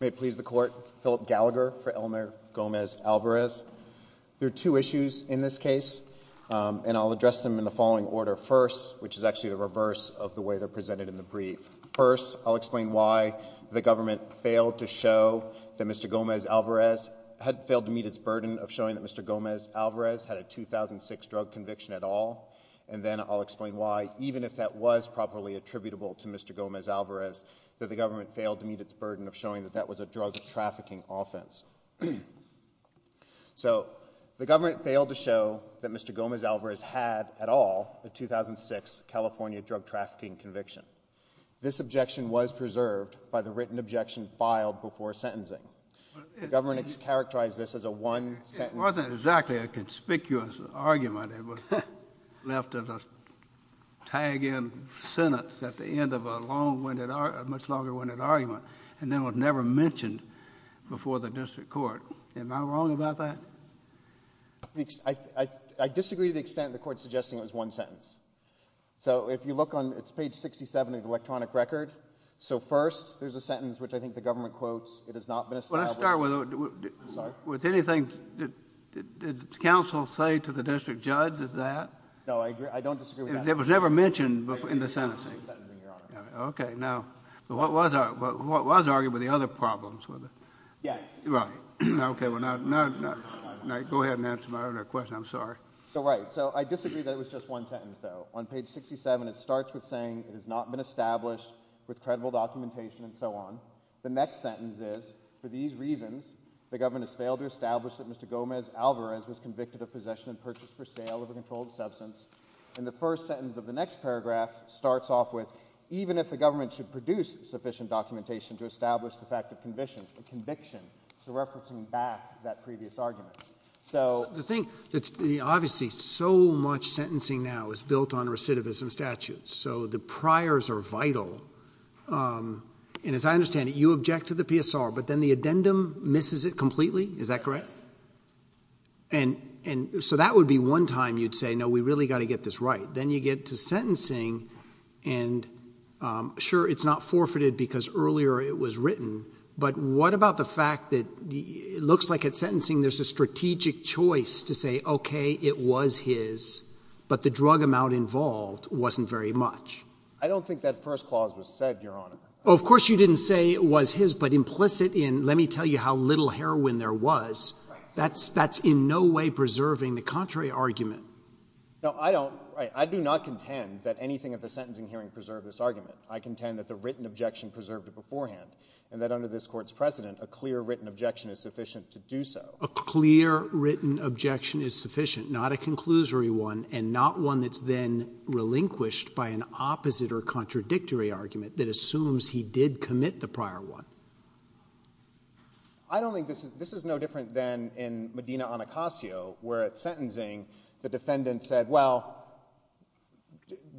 May it please the court, Philip Gallagher for Elmer Gomez-Alvarez. There are two issues in this case, and I'll address them in the following order first, which is actually the reverse of the way they're presented in the brief. First, I'll explain why the government failed to show that Mr. Gomez-Alvarez had failed to meet its burden of showing that Mr. Gomez-Alvarez had a 2006 drug conviction at all, and then I'll explain why, even if that was properly attributable to Mr. Gomez-Alvarez, that the government failed to meet its burden of showing that that was a drug trafficking offense. So the government failed to show that Mr. Gomez-Alvarez had at all a 2006 California drug trafficking conviction. This objection was preserved by the written objection filed before sentencing. The government has characterized this as a one sentence. It wasn't exactly a conspicuous argument. It was left as a tag-in sentence at the end of a much longer-winded argument, and then was never mentioned before the district court. Am I wrong about that? I disagree to the extent of the court suggesting it was one sentence. So if you look on page 67 of the electronic record, so first there's a sentence which I think the government quotes, it has not been established. Let's start with anything. Did counsel say to the district judge that that? No, I don't disagree with that. It was never mentioned in the sentencing. Okay, now what was argued were the other problems with it. Yes. Okay, well now go ahead and answer my other question, I'm sorry. So right, so I disagree that it was just one sentence, though. On page 67 it starts with saying it was a one sentence. So the next sentence is, for these reasons, the government has failed to establish that Mr. Gomez Alvarez was convicted of possession and purchase for sale of a controlled substance. And the first sentence of the next paragraph starts off with, even if the government should produce sufficient documentation to establish the fact of conviction, so referencing back that previous argument. So. The thing, obviously so much sentencing now is built on recidivism statutes. So the priors are vital. And as I understand it, you object to the PSR, but then the addendum misses it completely, is that correct? Yes. And so that would be one time you'd say, no, we really got to get this right. Then you get to sentencing, and sure, it's not forfeited because earlier it was written, but what about the fact that it looks like at sentencing there's a strategic choice to say, okay, it was his, but the drug amount involved wasn't very much. I don't think that first clause was said, Your Honor. Oh, of course you didn't say it was his, but implicit in, let me tell you how little heroin there was, that's in no way preserving the contrary argument. No, I don't, I do not contend that anything at the sentencing hearing preserved this argument. I contend that the written objection preserved it beforehand, and that under this court's precedent, a clear written objection is sufficient to do so. A clear written objection is sufficient, not a conclusory one, and not one that's then relinquished by an opposite or contradictory argument that assumes he did commit the prior one. I don't think this is, this is no different than in Medina-Anacostia, where at sentencing the defendant said, well,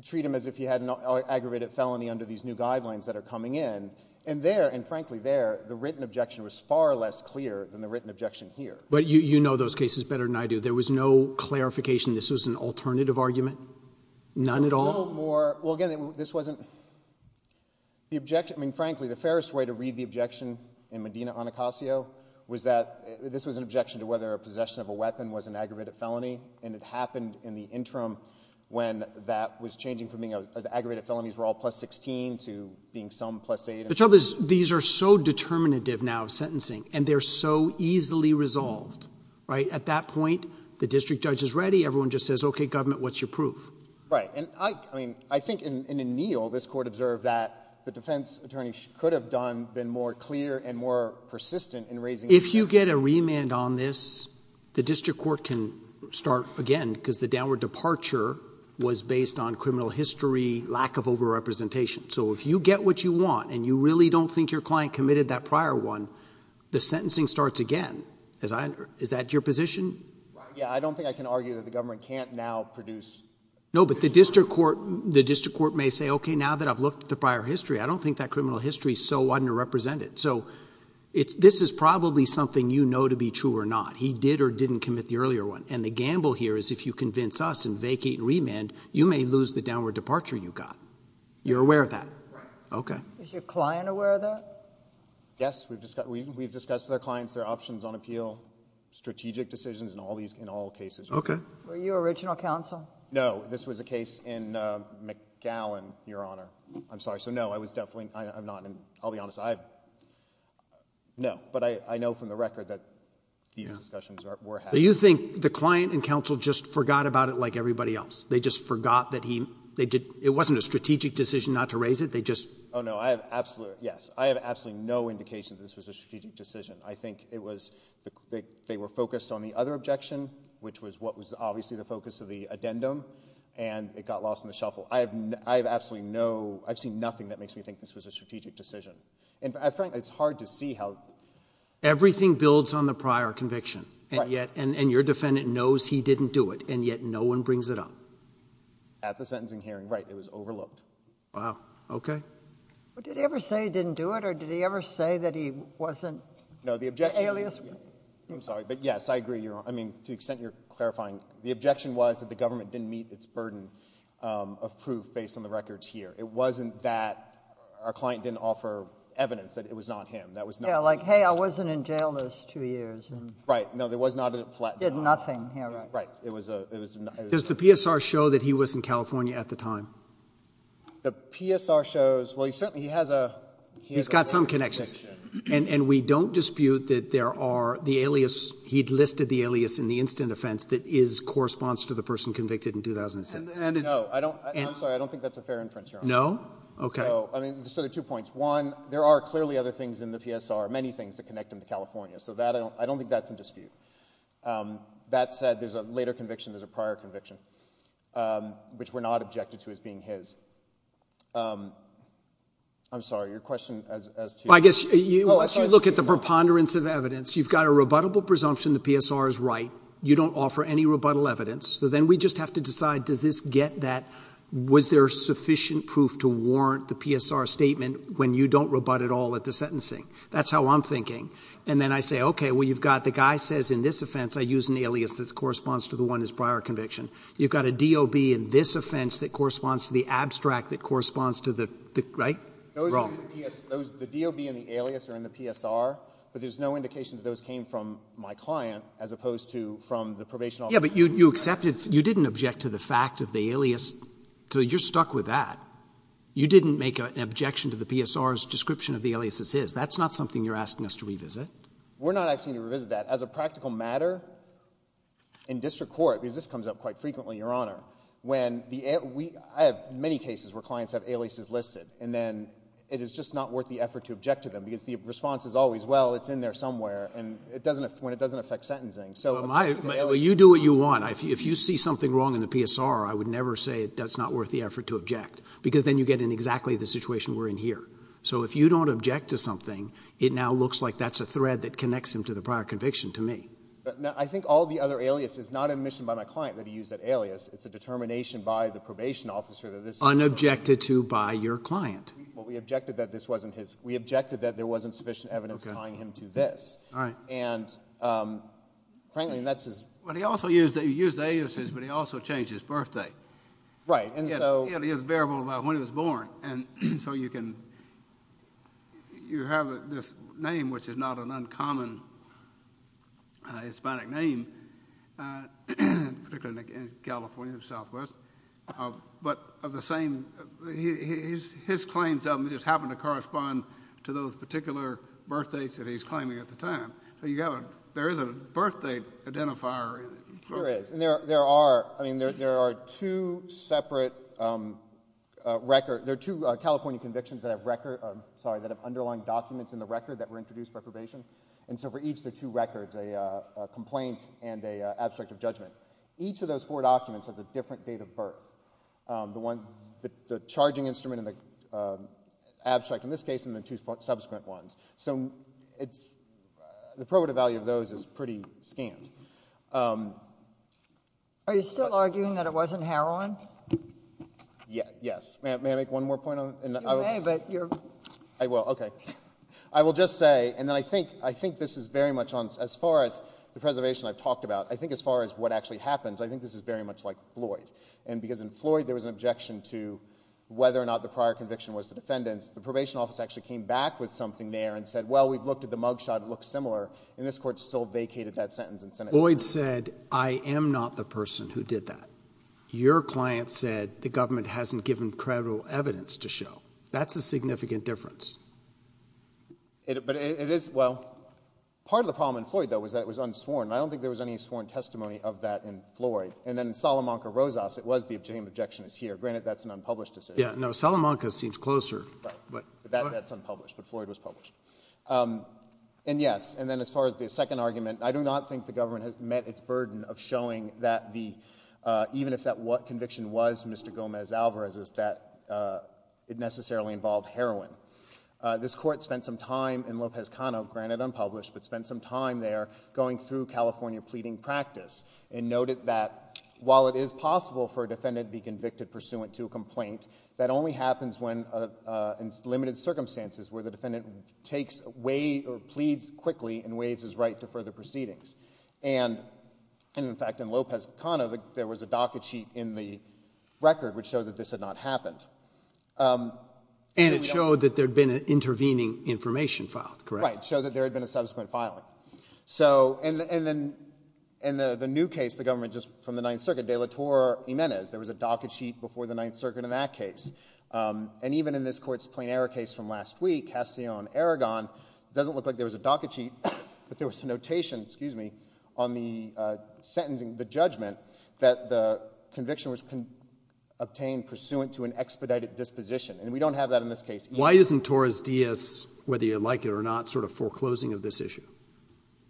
treat him as if he had an aggravated felony under these new guidelines that are coming in, and there, and frankly there, the written objection was far less clear than the written objection here. But you, you know those cases better than I do. There was no clarification this was an alternative argument? None at all? No, no more, well again, this wasn't, the objection, I mean, frankly, the fairest way to read the objection in Medina-Anacostia was that this was an objection to whether a possession of a weapon was an aggravated felony, and it happened in the interim when that was changing from being, the aggravated felonies were all plus 16 to being some plus 8. The trouble is, these are so determinative now of sentencing, and they're so easily resolved, right? At that point, the district judge is ready, everyone just says, okay, government, what's your proof? Right, and I, I mean, I think in, in O'Neill, this court observed that the defense attorney could have done, been more clear and more persistent in raising... If you get a remand on this, the district court can start again, because the downward departure was based on criminal history, lack of over-representation. So if you get what you want, and you really don't think your client committed that prior one, the sentencing starts again, as I, is that your position? Yeah, I don't think I can argue that the government can't now produce... No, but the district court, the district court may say, okay, now that I've looked at the prior history, I don't think that criminal history is so underrepresented. So, it, this is probably something you know to be true or not. He did or didn't commit the earlier one, and the gamble here is if you convince us and vacate remand, you may lose the downward departure you got. You're aware of that? Yes, sir. Okay. Is your client aware of that? Yes, we've discussed, we've discussed with our clients their options on appeal, strategic decisions and all these, in all cases. Okay. Were you original counsel? No, this was a case in McGowan, Your Honor. I'm sorry, so no, I was definitely, I'm not, I'll be honest, I've... no, but I know from the record that these discussions were had. Do you think the client and counsel just forgot about it like everybody else? They just forgot that he, they did, it wasn't a strategic decision not to raise it, they just... Oh, no, I have absolutely, yes, I have absolutely no indication that this was a strategic decision. I think it was, they were focused on the other objection, which was what was obviously the focus of the addendum, and it got lost in the shuffle. I have, I have absolutely no, I've seen nothing that makes me think this was a strategic decision. In fact, it's hard to see how... Everything builds on the prior conviction, and yet, and your defendant knows he didn't do it, and yet, no one brings it up. At the sentencing hearing, right, it was overlooked. Wow, okay. But did he ever say he didn't do it, or did he ever say that he wasn't... No, the objection...... an alias? I'm sorry, but yes, I agree, Your Honor, I mean, to the extent you're clarifying, the objection was that the government didn't meet its burden of proof based on the records here. It wasn't that our client didn't offer evidence that it was not him, that was not... Yeah, like, hey, I wasn't in jail those two years, and... Right, no, there was not a... He did nothing, Your Honor. Right, it was a... Does the PSR show that he was in California at the time? The PSR shows... well, he certainly has a... He's got some connections, and we don't dispute that there are the alias... he'd listed the alias in the instant offense that is, corresponds to the person convicted in 2006. And... No, I don't... I'm sorry, I don't think that's a fair inference, Your Honor. No? Okay. So, I mean, so there are two points. One, there are clearly other things in the PSR, many things that connect him to California, so that, I don't think that's in dispute. That said, there's a later conviction, there's a prior conviction, which we're not objected to as being his. I'm sorry, your question as to... Well, I guess... Oh, I'm sorry. Once you look at the preponderance of evidence, you've got a rebuttable presumption the PSR is right, you don't offer any rebuttal evidence, so then we just have to decide, does this get that... was there sufficient proof to warrant the PSR statement when you don't rebut at all at the sentencing? That's how I'm thinking. And then I say, okay, well, you've got... the guy says in this offense, I use an alias that corresponds to the one in his prior conviction. You've got a DOB in this offense that corresponds to the abstract that corresponds to the... right? Wrong. Those are in the PSR. The DOB and the alias are in the PSR, but there's no indication that those came from my client as opposed to from the probation officer... Yeah, but you accepted... you didn't object to the fact of the alias, so you're stuck with that. You didn't make an objection to the PSR's description of the alias as his. That's not something you're asking us to revisit. We're not asking you to revisit that. As a practical matter, in district court, because this comes up quite frequently, Your Honor, when the... I have many cases where clients have aliases listed, and then it is just not worth the effort to object to them because the response is always, well, it's in there somewhere, and it doesn't... when it doesn't affect sentencing, so... Well, you do what you want. If you see something wrong in the PSR, I would never say it's not worth the effort to object, because then you get in exactly the situation we're in here. So if you don't object to something, it now looks like that's a thread that connects him to the prior conviction to me. I think all the other aliases, not admission by my client that he used that alias, it's a determination by the probation officer that this is... Unobjected to by your client. Well, we objected that this wasn't his... we objected that there wasn't sufficient evidence tying him to this, and, frankly, that's his... Well, he also used aliases, but he also changed his birthday. Right, and so... It is variable by when he was born, and so you can... you have this name, which is not an uncommon Hispanic name, particularly in California, Southwest, but of the same... his claims of him just happen to correspond to those particular birthdates that he's claiming at the time. So you've got a... there is a birthday identifier... There is, and there are... I mean, there are two separate record... there are two California convictions that have record... I'm sorry, that have underlying documents in the record that were introduced by probation, and so for each of the two records, a complaint and an abstract of judgment, each of those four documents has a different date of birth. The one... the charging instrument and the abstract, in this case, and the two subsequent ones. So it's... the probative value of those is pretty scant. Are you still arguing that it wasn't heroin? Yes. May I make one more point on... You may, but you're... I will. Okay. I will just say, and then I think this is very much on... as far as the preservation I've talked about, I think as far as what actually happens, I think this is very much like Floyd, and because in Floyd there was an objection to whether or not the prior conviction was the defendant's, the probation office actually came back with something there and said, well, we've looked at the mug shot, it looks similar, and this Court still vacated that sentence in Senate. Floyd said, I am not the person who did that. Your client said, the government hasn't given credible evidence to show. That's a significant difference. But it is... well, part of the problem in Floyd, though, was that it was unsworn, and I don't think there was any sworn testimony of that in Floyd. And then in Salamanca-Rosas, it was the objection is here, granted that's an unpublished decision. Yeah, no, Salamanca seems closer. Right. But that's unpublished, but Floyd was published. And yes, and then as far as the second argument, I do not think the government has met its burden of showing that the... even if that conviction was Mr. Gomez-Alvarez's, that it necessarily involved heroin. This Court spent some time in Lopez-Cano, granted unpublished, but spent some time there going through California pleading practice, and noted that while it is possible for a defendant to plead, that only happens when, in limited circumstances, where the defendant takes a way or pleads quickly and waives his right to further proceedings. And in fact, in Lopez-Cano, there was a docket sheet in the record which showed that this had not happened. And it showed that there had been an intervening information filed, correct? Right. Showed that there had been a subsequent filing. So and then in the new case, the government just from the Ninth Circuit, de la Torre-Jimenez, there was a docket sheet before the Ninth Circuit in that case. And even in this Court's plain error case from last week, Castellon-Aragon, it doesn't look like there was a docket sheet, but there was a notation, excuse me, on the sentencing, the judgment, that the conviction was obtained pursuant to an expedited disposition. And we don't have that in this case either. Why isn't Torres-Diaz, whether you like it or not, sort of foreclosing of this issue?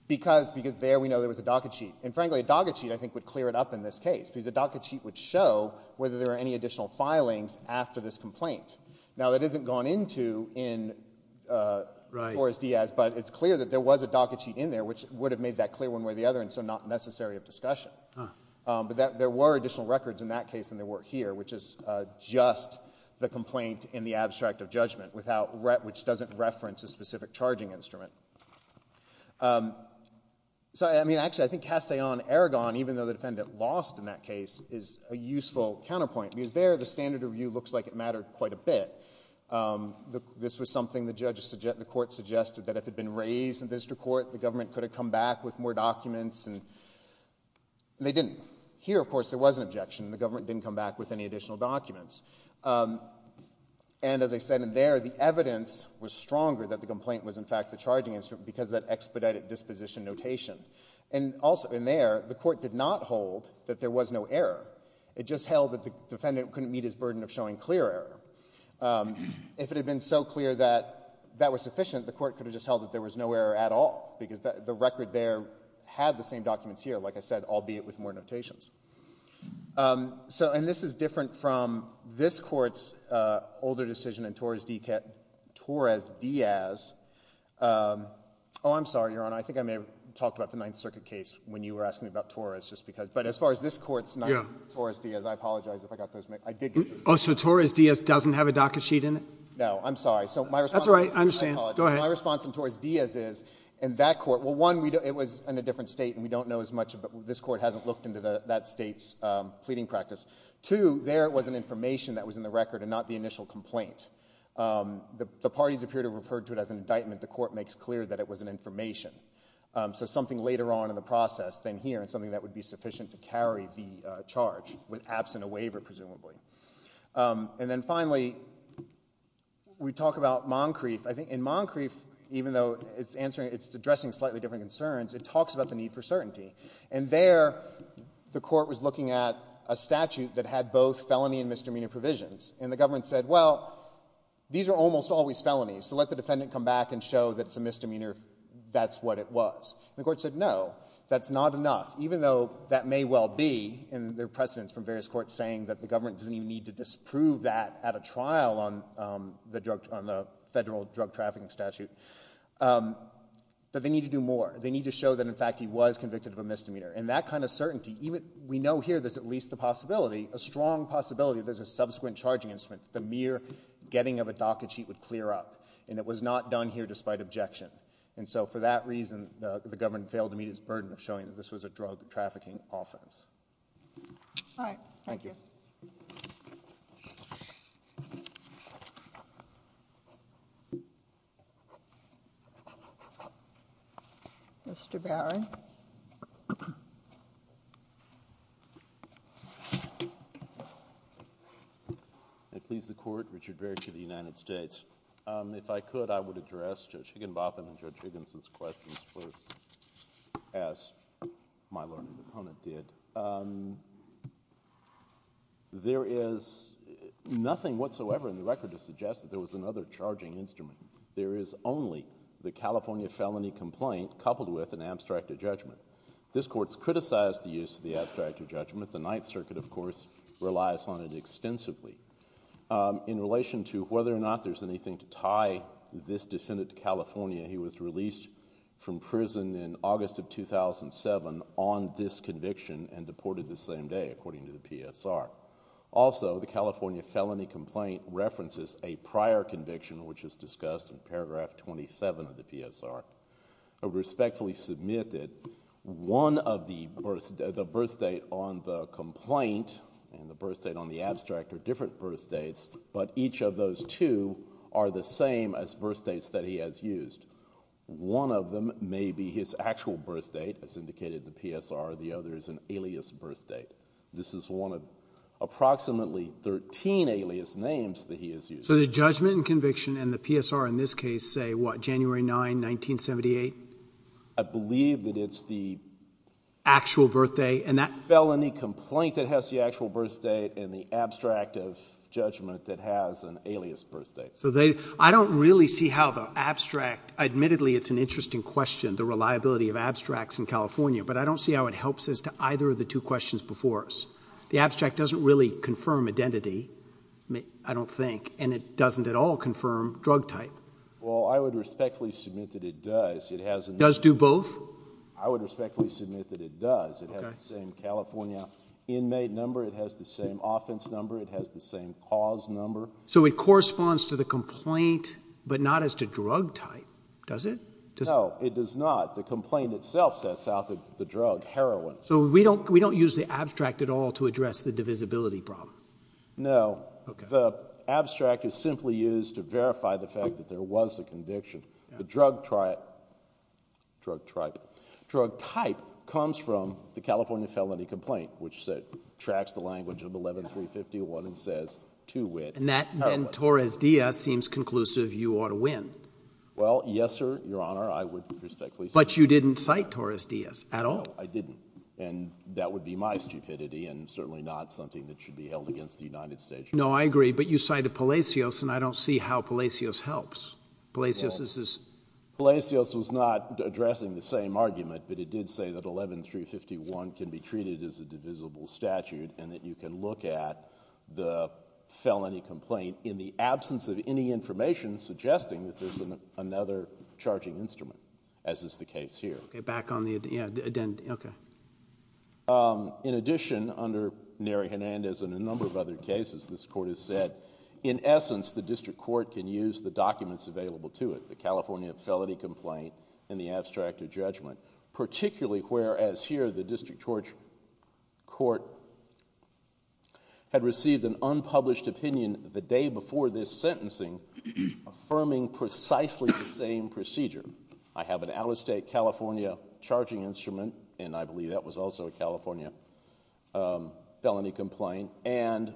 Because there we know there was a docket sheet. And frankly, a docket sheet, I think, would clear it up in this case, because a docket sheet would show whether there were any additional filings after this complaint. Now that isn't gone into in Torres-Diaz, but it's clear that there was a docket sheet in there, which would have made that clear one way or the other, and so not necessary of discussion. But there were additional records in that case than there were here, which is just the complaint in the abstract of judgment, which doesn't reference a specific charging instrument. So, I mean, actually, I think Castellon-Aragon, even though the defendant lost in that case, is a useful counterpoint, because there the standard of view looks like it mattered quite a bit. This was something the court suggested that if it had been raised in the district court, the government could have come back with more documents, and they didn't. Here, of course, there was an objection, and the government didn't come back with any additional documents. And, as I said in there, the evidence was stronger that the complaint was, in fact, the charging instrument, because of that expedited disposition notation. And also in there, the court did not hold that there was no error. It just held that the defendant couldn't meet his burden of showing clear error. If it had been so clear that that was sufficient, the court could have just held that there was no error at all, because the record there had the same documents here, like I said, albeit with more notations. And this is different from this Court's older decision in Torres Diaz. Oh, I'm sorry, Your Honor, I think I may have talked about the Ninth Circuit case when you were asking about Torres, but as far as this Court's Ninth Circuit, Torres Diaz, I apologize if I got those mixed up. I did get those mixed up. Oh, so Torres Diaz doesn't have a docket sheet in it? No. I'm sorry. That's all right. I understand. Go ahead. My response in Torres Diaz is, in that Court, well, one, it was in a different state, and we don't know as much about, this Court hasn't looked into that state's pleading practice. Two, there was an information that was in the record and not the initial complaint. The parties appear to have referred to it as an indictment. The Court makes clear that it was an information, so something later on in the process than here and something that would be sufficient to carry the charge, with absent a waiver, presumably. And then finally, we talk about Moncrief. I think in Moncrief, even though it's addressing slightly different concerns, it talks about the need for certainty. And there, the Court was looking at a statute that had both felony and misdemeanor provisions, and the government said, well, these are almost always felonies, so let the defendant come back and show that it's a misdemeanor if that's what it was. And the Court said, no, that's not enough, even though that may well be, and there are precedents from various courts saying that the government doesn't even need to disprove that at a trial on the federal drug trafficking statute, that they need to do more. They need to show that, in fact, he was convicted of a misdemeanor. And that kind of certainty, even, we know here there's at least the possibility, a strong possibility that there's a subsequent charging instrument, the mere getting of a docket sheet would clear up. And it was not done here despite objection. And so for that reason, the government failed to meet its burden of showing that this was a drug trafficking offense. All right. Thank you. Mr. Barry? May it please the Court, Richard Barry for the United States. If I could, I would address Judge Higginbotham and Judge Higginson's questions first, as my learned opponent did. There is nothing whatsoever in the record to suggest that there was another charging instrument. There is only the California felony complaint coupled with an abstracted judgment. This Court's criticized the use of the abstracted judgment. The Ninth Circuit, of course, relies on it extensively. In relation to whether or not there's anything to tie this defendant to California, he was released from prison in August of 2007 on this conviction and deported the same day, according to the PSR. Also, the California felony complaint references a prior conviction, which is discussed in paragraph 27 of the PSR. I respectfully submit that one of the birth date on the complaint and the birth date on the abstract are different birth dates, but each of those two are the same as birth dates that he has used. One of them may be his actual birth date, as indicated in the PSR. The other is an alias birth date. This is one of approximately 13 alias names that he has used. So the judgment and conviction and the PSR in this case say, what, January 9, 1978? I believe that it's the actual birth date and that felony complaint that has the actual birth date and the abstract of judgment that has an alias birth date. So I don't really see how the abstract—admittedly, it's an interesting question, the reliability of abstracts in California, but I don't see how it helps as to either of the two questions before us. The abstract doesn't really confirm identity, I don't think, and it doesn't at all confirm drug type. Well, I would respectfully submit that it does. It has— Does do both? I would respectfully submit that it does. Okay. It has the same California inmate number, it has the same offense number, it has the same cause number. So it corresponds to the complaint, but not as to drug type, does it? No, it does not. The complaint itself sets out the drug, heroin. So we don't use the abstract at all to address the divisibility problem? No. Okay. The abstract is simply used to verify the fact that there was a conviction. The drug type comes from the California felony complaint, which tracks the language of 11-351 and says, to wit— And that, then, Torres-Diaz seems conclusive you ought to win. Well, yes, sir, Your Honor, I would respectfully— But you didn't cite Torres-Diaz at all? No, I didn't. And that would be my stupidity and certainly not something that should be held against the United States. No, I agree, but you cited Palacios, and I don't see how Palacios helps. Palacios is— Well, Palacios was not addressing the same argument, but it did say that 11-351 can be treated as a divisible statute and that you can look at the felony complaint in the absence of any information suggesting that there's another charging instrument, as is the case here. Okay, back on the, yeah, the addendum, okay. In addition, under Neri Hernandez and a number of other cases, this Court has said, in essence, the District Court can use the documents available to it, the California felony complaint and the abstract of judgment, particularly whereas here the District Court had received an unpublished opinion the day before this sentencing affirming precisely the same procedure. I have an out-of-state California charging instrument, and I believe that was also a California felony complaint, and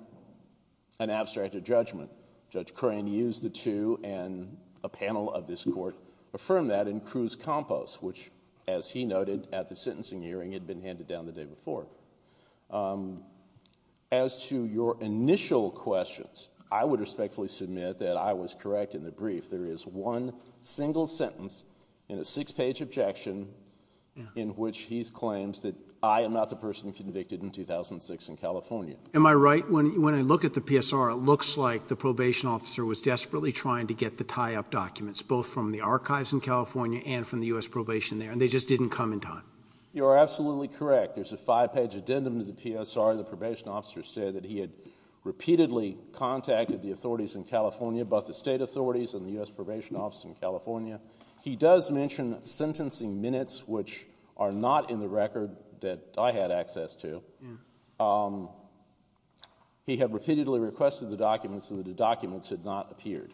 an abstract of judgment. Judge Crane used the two, and a panel of this Court affirmed that in Cruz-Compos, which, as he noted at the sentencing hearing, had been handed down the day before. As to your initial questions, I would respectfully submit that I was correct in the brief. There is one single sentence in a six-page objection in which he claims that I am not the person convicted in 2006 in California. Am I right? When I look at the PSR, it looks like the probation officer was desperately trying to get the tie-up documents, both from the archives in California and from the U.S. probation there, and they just didn't come in time. You are absolutely correct. There's a five-page addendum to the PSR. The probation officer said that he had repeatedly contacted the authorities in California, both the state authorities and the U.S. probation office in California. He does mention sentencing minutes, which are not in the record that I had access to. He had repeatedly requested the documents, and the documents had not appeared,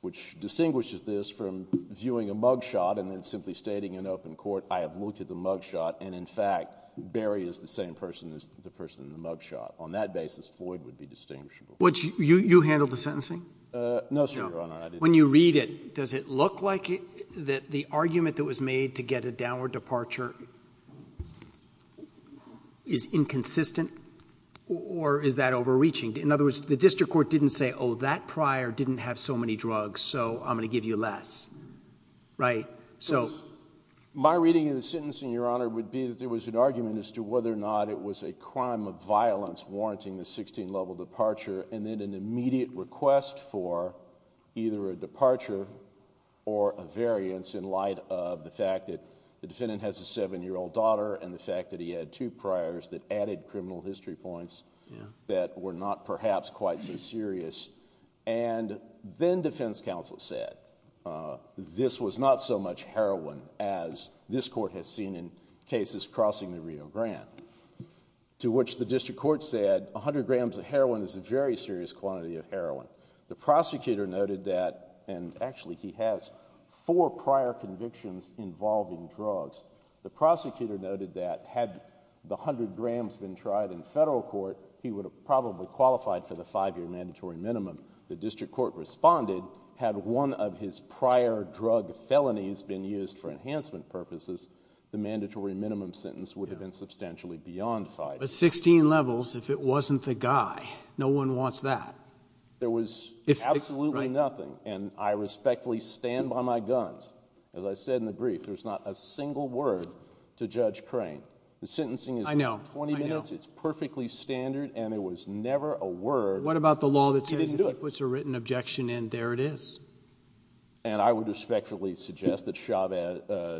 which distinguishes this from viewing a mugshot and then simply stating in open court, I have looked at the mugshot, and in fact, Barry is the same person as the person in the mugshot. On that basis, Floyd would be distinguishable. You handled the sentencing? No, sir, Your Honor. I didn't. When you read it, does it look like the argument that was made to get a downward departure is inconsistent or is that overreaching? In other words, the district court didn't say, oh, that prior didn't have so many drugs, so I'm going to give you less, right? My reading of the sentencing, Your Honor, would be that there was an argument as to whether or not it was a crime of violence warranting the sixteen-level departure, and then an immediate request for either a departure or a variance in light of the fact that the defendant has a seven-year-old daughter and the fact that he had two priors that added criminal history points that were not perhaps quite so serious, and then defense counsel said this was not so much heroin as this court has seen in cases crossing the Rio Grande, to which the district court said a hundred grams of heroin is a very serious quantity of heroin. The prosecutor noted that, and actually, he has four prior convictions involving drugs. The prosecutor noted that had the hundred grams been tried in federal court, he would have probably qualified for the five-year mandatory minimum. The district court responded, had one of his prior drug felonies been used for enhancement purposes, the mandatory minimum sentence would have been substantially beyond five years. But sixteen levels, if it wasn't the guy, no one wants that. There was absolutely nothing, and I respectfully stand by my guns. As I said in the brief, there's not a single word to Judge Crane. The sentencing is twenty minutes. It's perfectly standard, and there was never a word. What about the law that says if he puts a written objection in, there it is? And I would respectfully suggest that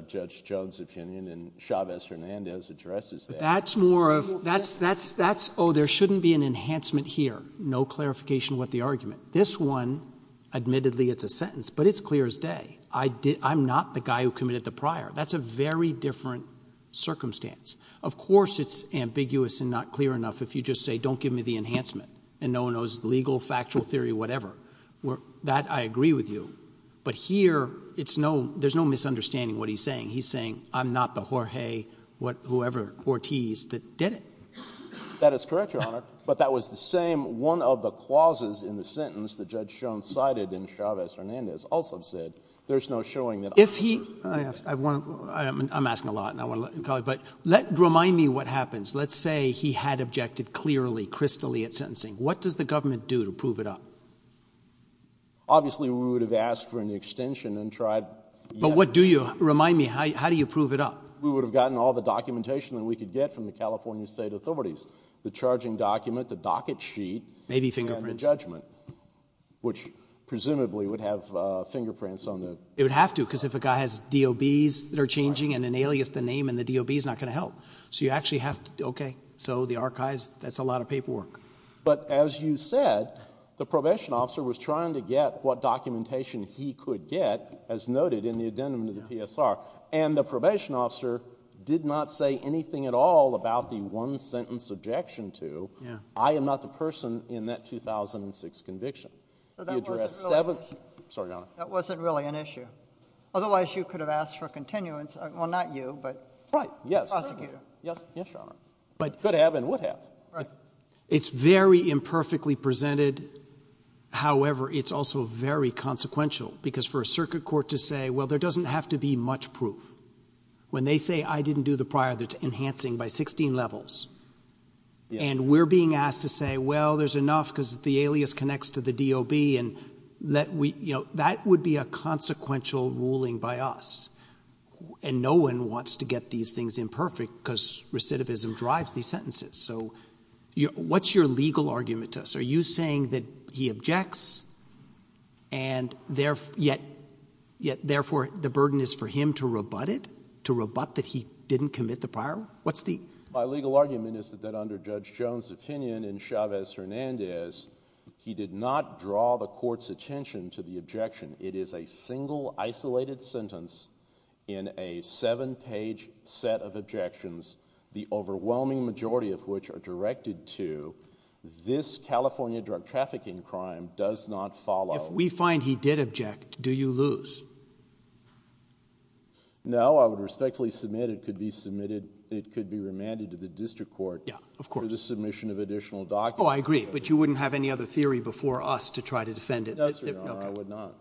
Judge Jones' opinion and Chavez-Hernandez addresses that. That's more of, oh, there shouldn't be an enhancement here. No clarification with the argument. This one, admittedly, it's a sentence, but it's clear as day. I'm not the guy who committed the prior. That's a very different circumstance. Of course, it's ambiguous and not clear enough if you just say, don't give me the enhancement, and no one knows the legal, factual theory, whatever. That I agree with you. But here, there's no misunderstanding what he's saying. He's saying, I'm not the Jorge, whoever, Ortiz that did it. That is correct, Your Honor. But that was the same one of the clauses in the sentence that Judge Jones cited in Chavez-Hernandez also said, there's no showing that I'm the person who did it. I'm asking a lot, and I want to let you call it, but remind me what happens. Let's say he had objected clearly, crystally at sentencing. What does the government do to prove it up? Obviously, we would have asked for an extension and tried. But what do you? Remind me, how do you prove it up? We would have gotten all the documentation that we could get from the California state authorities, the charging document, the docket sheet, and the judgment, which presumably would have fingerprints on them. It would have to, because if a guy has DOBs that are changing, and an alias, the name in the DOB is not going to help. So you actually have to, okay, so the archives, that's a lot of paperwork. But as you said, the probation officer was trying to get what documentation he could get, as noted in the addendum to the PSR, and the probation officer did not say anything at all about the one sentence objection to, I am not the person in that 2006 conviction. So that wasn't really an issue. Sorry, Your Honor. That wasn't really an issue. Otherwise, you could have asked for a continuance. Well, not you, but. Right, yes. Prosecutor. Yes, Your Honor. Could have and would have. It's very imperfectly presented. However, it's also very consequential, because for a circuit court to say, well, there doesn't have to be much proof. When they say, I didn't do the prior, that's enhancing by 16 levels. And we're being asked to say, well, there's enough because the alias connects to the DOB, and that would be a consequential ruling by us. And no one wants to get these things imperfect, because recidivism drives these sentences. So what's your legal argument to us? Are you saying that he objects, and yet, therefore, the burden is for him to rebut it? To rebut that he didn't commit the prior? What's the? My legal argument is that under Judge Jones' opinion and Chavez-Hernandez, he did not draw the court's attention to the objection. It is a single, isolated sentence in a seven-page set of objections, the overwhelming majority of which are directed to this California drug trafficking crime does not follow. If we find he did object, do you lose? No, I would respectfully submit it could be remanded to the district court for the submission of additional documents. Oh, I agree. But you wouldn't have any other theory before us to try to defend it? No, I would not.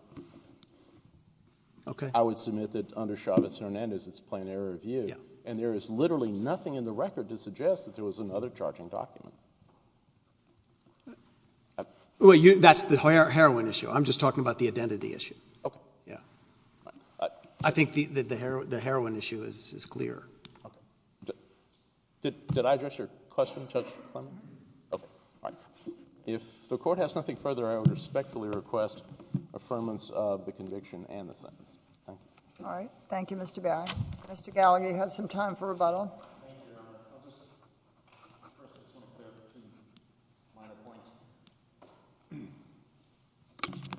I would submit that under Chavez-Hernandez, it's plain error of view, and there is literally nothing in the record to suggest that there was another charging document. Well, that's the heroin issue. I'm just talking about the identity issue. I think the heroin issue is clear. Did I address your question, Judge Clement? If the Court has nothing further, I would respectfully request affirmance of the conviction and the sentence. Thank you. All right. Thank you, Mr. Barry. Mr. Gallagher, you have some time for rebuttal. Thank you, Your Honor. I'll just press the point there between minor points.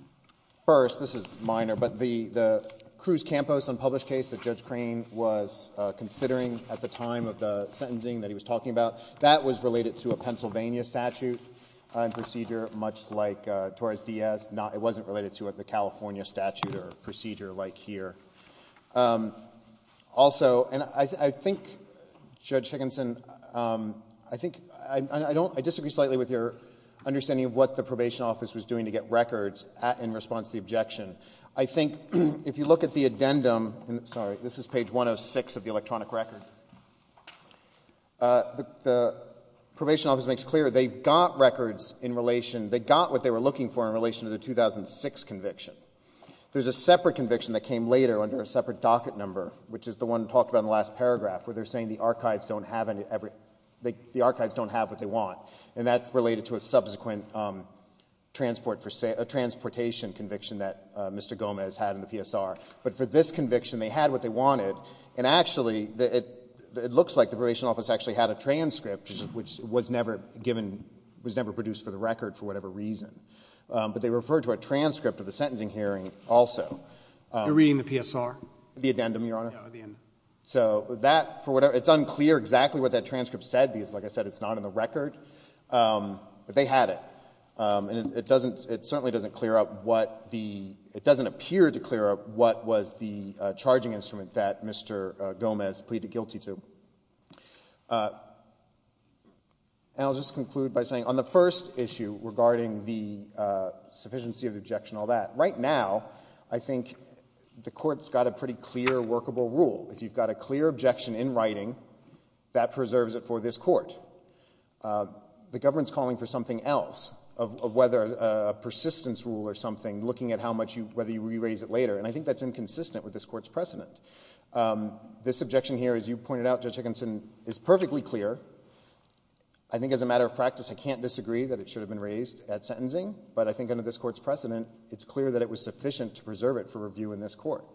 First, this is minor, but the Cruz-Campos unpublished case that Judge Crane was considering at the time of the sentencing that he was talking about, that was related to a Pennsylvania statute procedure, much like Torres-Diaz. It wasn't related to the California statute or procedure like here. Also, and I think, Judge Higginson, I disagree slightly with your understanding of what the Probation Office was doing to get records in response to the objection. I think if you look at the addendum, sorry, this is page 106 of the electronic record, the Probation Office makes clear they got records in relation, they got what they were looking for in relation to the 2006 conviction. There's a separate conviction that came later under a separate docket number, which is the one talked about in the last paragraph, where they're saying the archives don't have what they want. And that's related to a subsequent transportation conviction that Mr. Gomez had in the PSR. But for this conviction, they had what they wanted, and actually, it looks like the Probation Office actually had a transcript, which was never given, was never produced for the record for whatever reason. But they referred to a transcript of the sentencing hearing also. You're reading the PSR? The addendum, Your Honor? Yeah, the addendum. So that, for whatever, it's unclear exactly what that transcript said, because like I said, it's not in the record, but they had it, and it doesn't, it certainly doesn't clear up what the, it doesn't appear to clear up what was the charging instrument that Mr. Gomez pleaded guilty to. And I'll just conclude by saying, on the first issue regarding the sufficiency of the objection and all that, right now, I think the Court's got a pretty clear workable rule. If you've got a clear objection in writing, that preserves it for this Court. The government's calling for something else, of whether a persistence rule or something, looking at how much you, whether you re-raise it later, and I think that's inconsistent with this Court's precedent. This objection here, as you pointed out, Judge Higginson, is perfectly clear. I think as a matter of practice, I can't disagree that it should have been raised at sentencing, but I think under this Court's precedent, it's clear that it was sufficient to preserve it for review in this Court.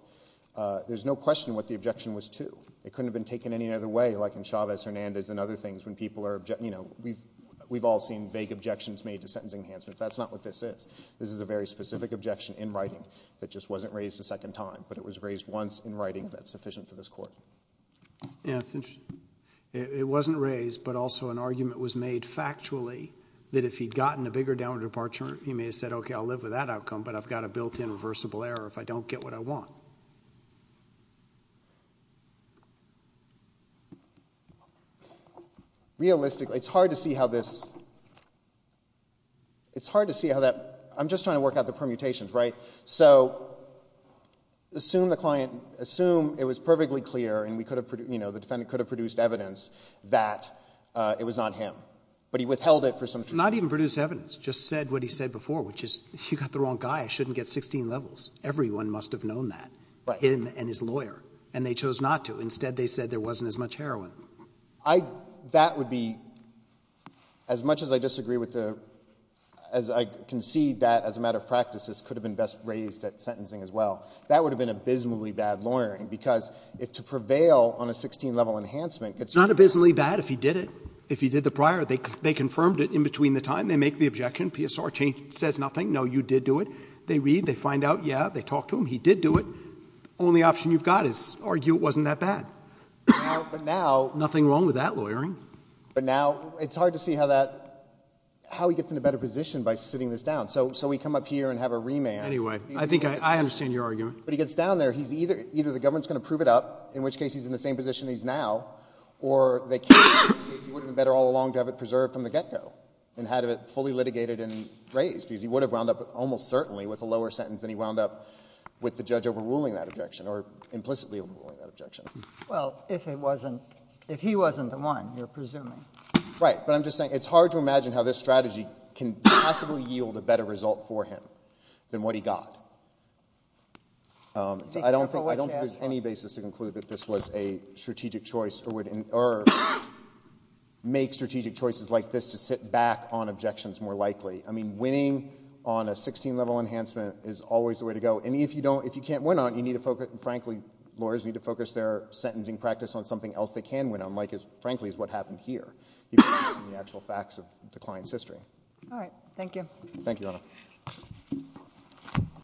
There's no question what the objection was to. It couldn't have been taken any other way, like in Chavez-Hernandez and other things, when people are, you know, we've all seen vague objections made to sentencing enhancements. That's not what this is. This is a very specific objection in writing that just wasn't raised a second time, but it was raised once in writing that's sufficient for this Court. Yeah, it's interesting. It wasn't raised, but also an argument was made factually that if he'd gotten a bigger downward departure, he may have said, okay, I'll live with that outcome, but I've got a built-in reversible error if I don't get what I want. Realistically, it's hard to see how this, it's hard to see how that, I'm just trying to work out the permutations, right? So assume the client, assume it was perfectly clear and we could have, you know, the defendant could have produced evidence that it was not him, but he withheld it for some reason. Not even produced evidence, just said what he said before, which is, you got the wrong guy. I shouldn't get 16 levels. Everyone must have known that. Right. Him and his lawyer. And they chose not to. Instead, they said there wasn't as much heroin. That would be, as much as I disagree with the, as I concede that as a matter of practice, this could have been best raised at sentencing as well. That would have been abysmally bad lawyering, because if to prevail on a 16-level enhancement could serve— It's not abysmally bad if he did it. If he did the prior, they confirmed it in between the time. They make the objection. PSR says nothing. No, you did do it. They read. They find out. Yeah. They talk to him. He did do it. Only option you've got is argue it wasn't that bad. Now— But now— Nothing wrong with that lawyering. But now, it's hard to see how that, how he gets in a better position by sitting this down. So, so we come up here and have a remand— Anyway. I think I, I understand your argument. But he gets down there. He's either, either the government's going to prove it up, in which case he's in the same position he's now, or they can't, in which case he would have been better all along to have it preserved from the get-go and had it fully litigated and raised, because he would have wound up, almost certainly, with a lower sentence than he wound up with the judge overruling that objection, or implicitly overruling that objection. Well, if it wasn't, if he wasn't the one, you're presuming. Right. But I'm just saying, it's hard to imagine how this strategy can possibly yield a better result for him than what he got. So I don't think— Be careful what you ask for. I don't think there's any basis to conclude that this was a strategic choice, or would—or make strategic choices like this to sit back on objections more likely. I mean, winning on a 16-level enhancement is always the way to go, and if you don't, if you can't win on it, you need to focus—and frankly, lawyers need to focus their sentencing practice on something else they can win on, like is, frankly, is what happened here, even based on the actual facts of the client's history. Thank you.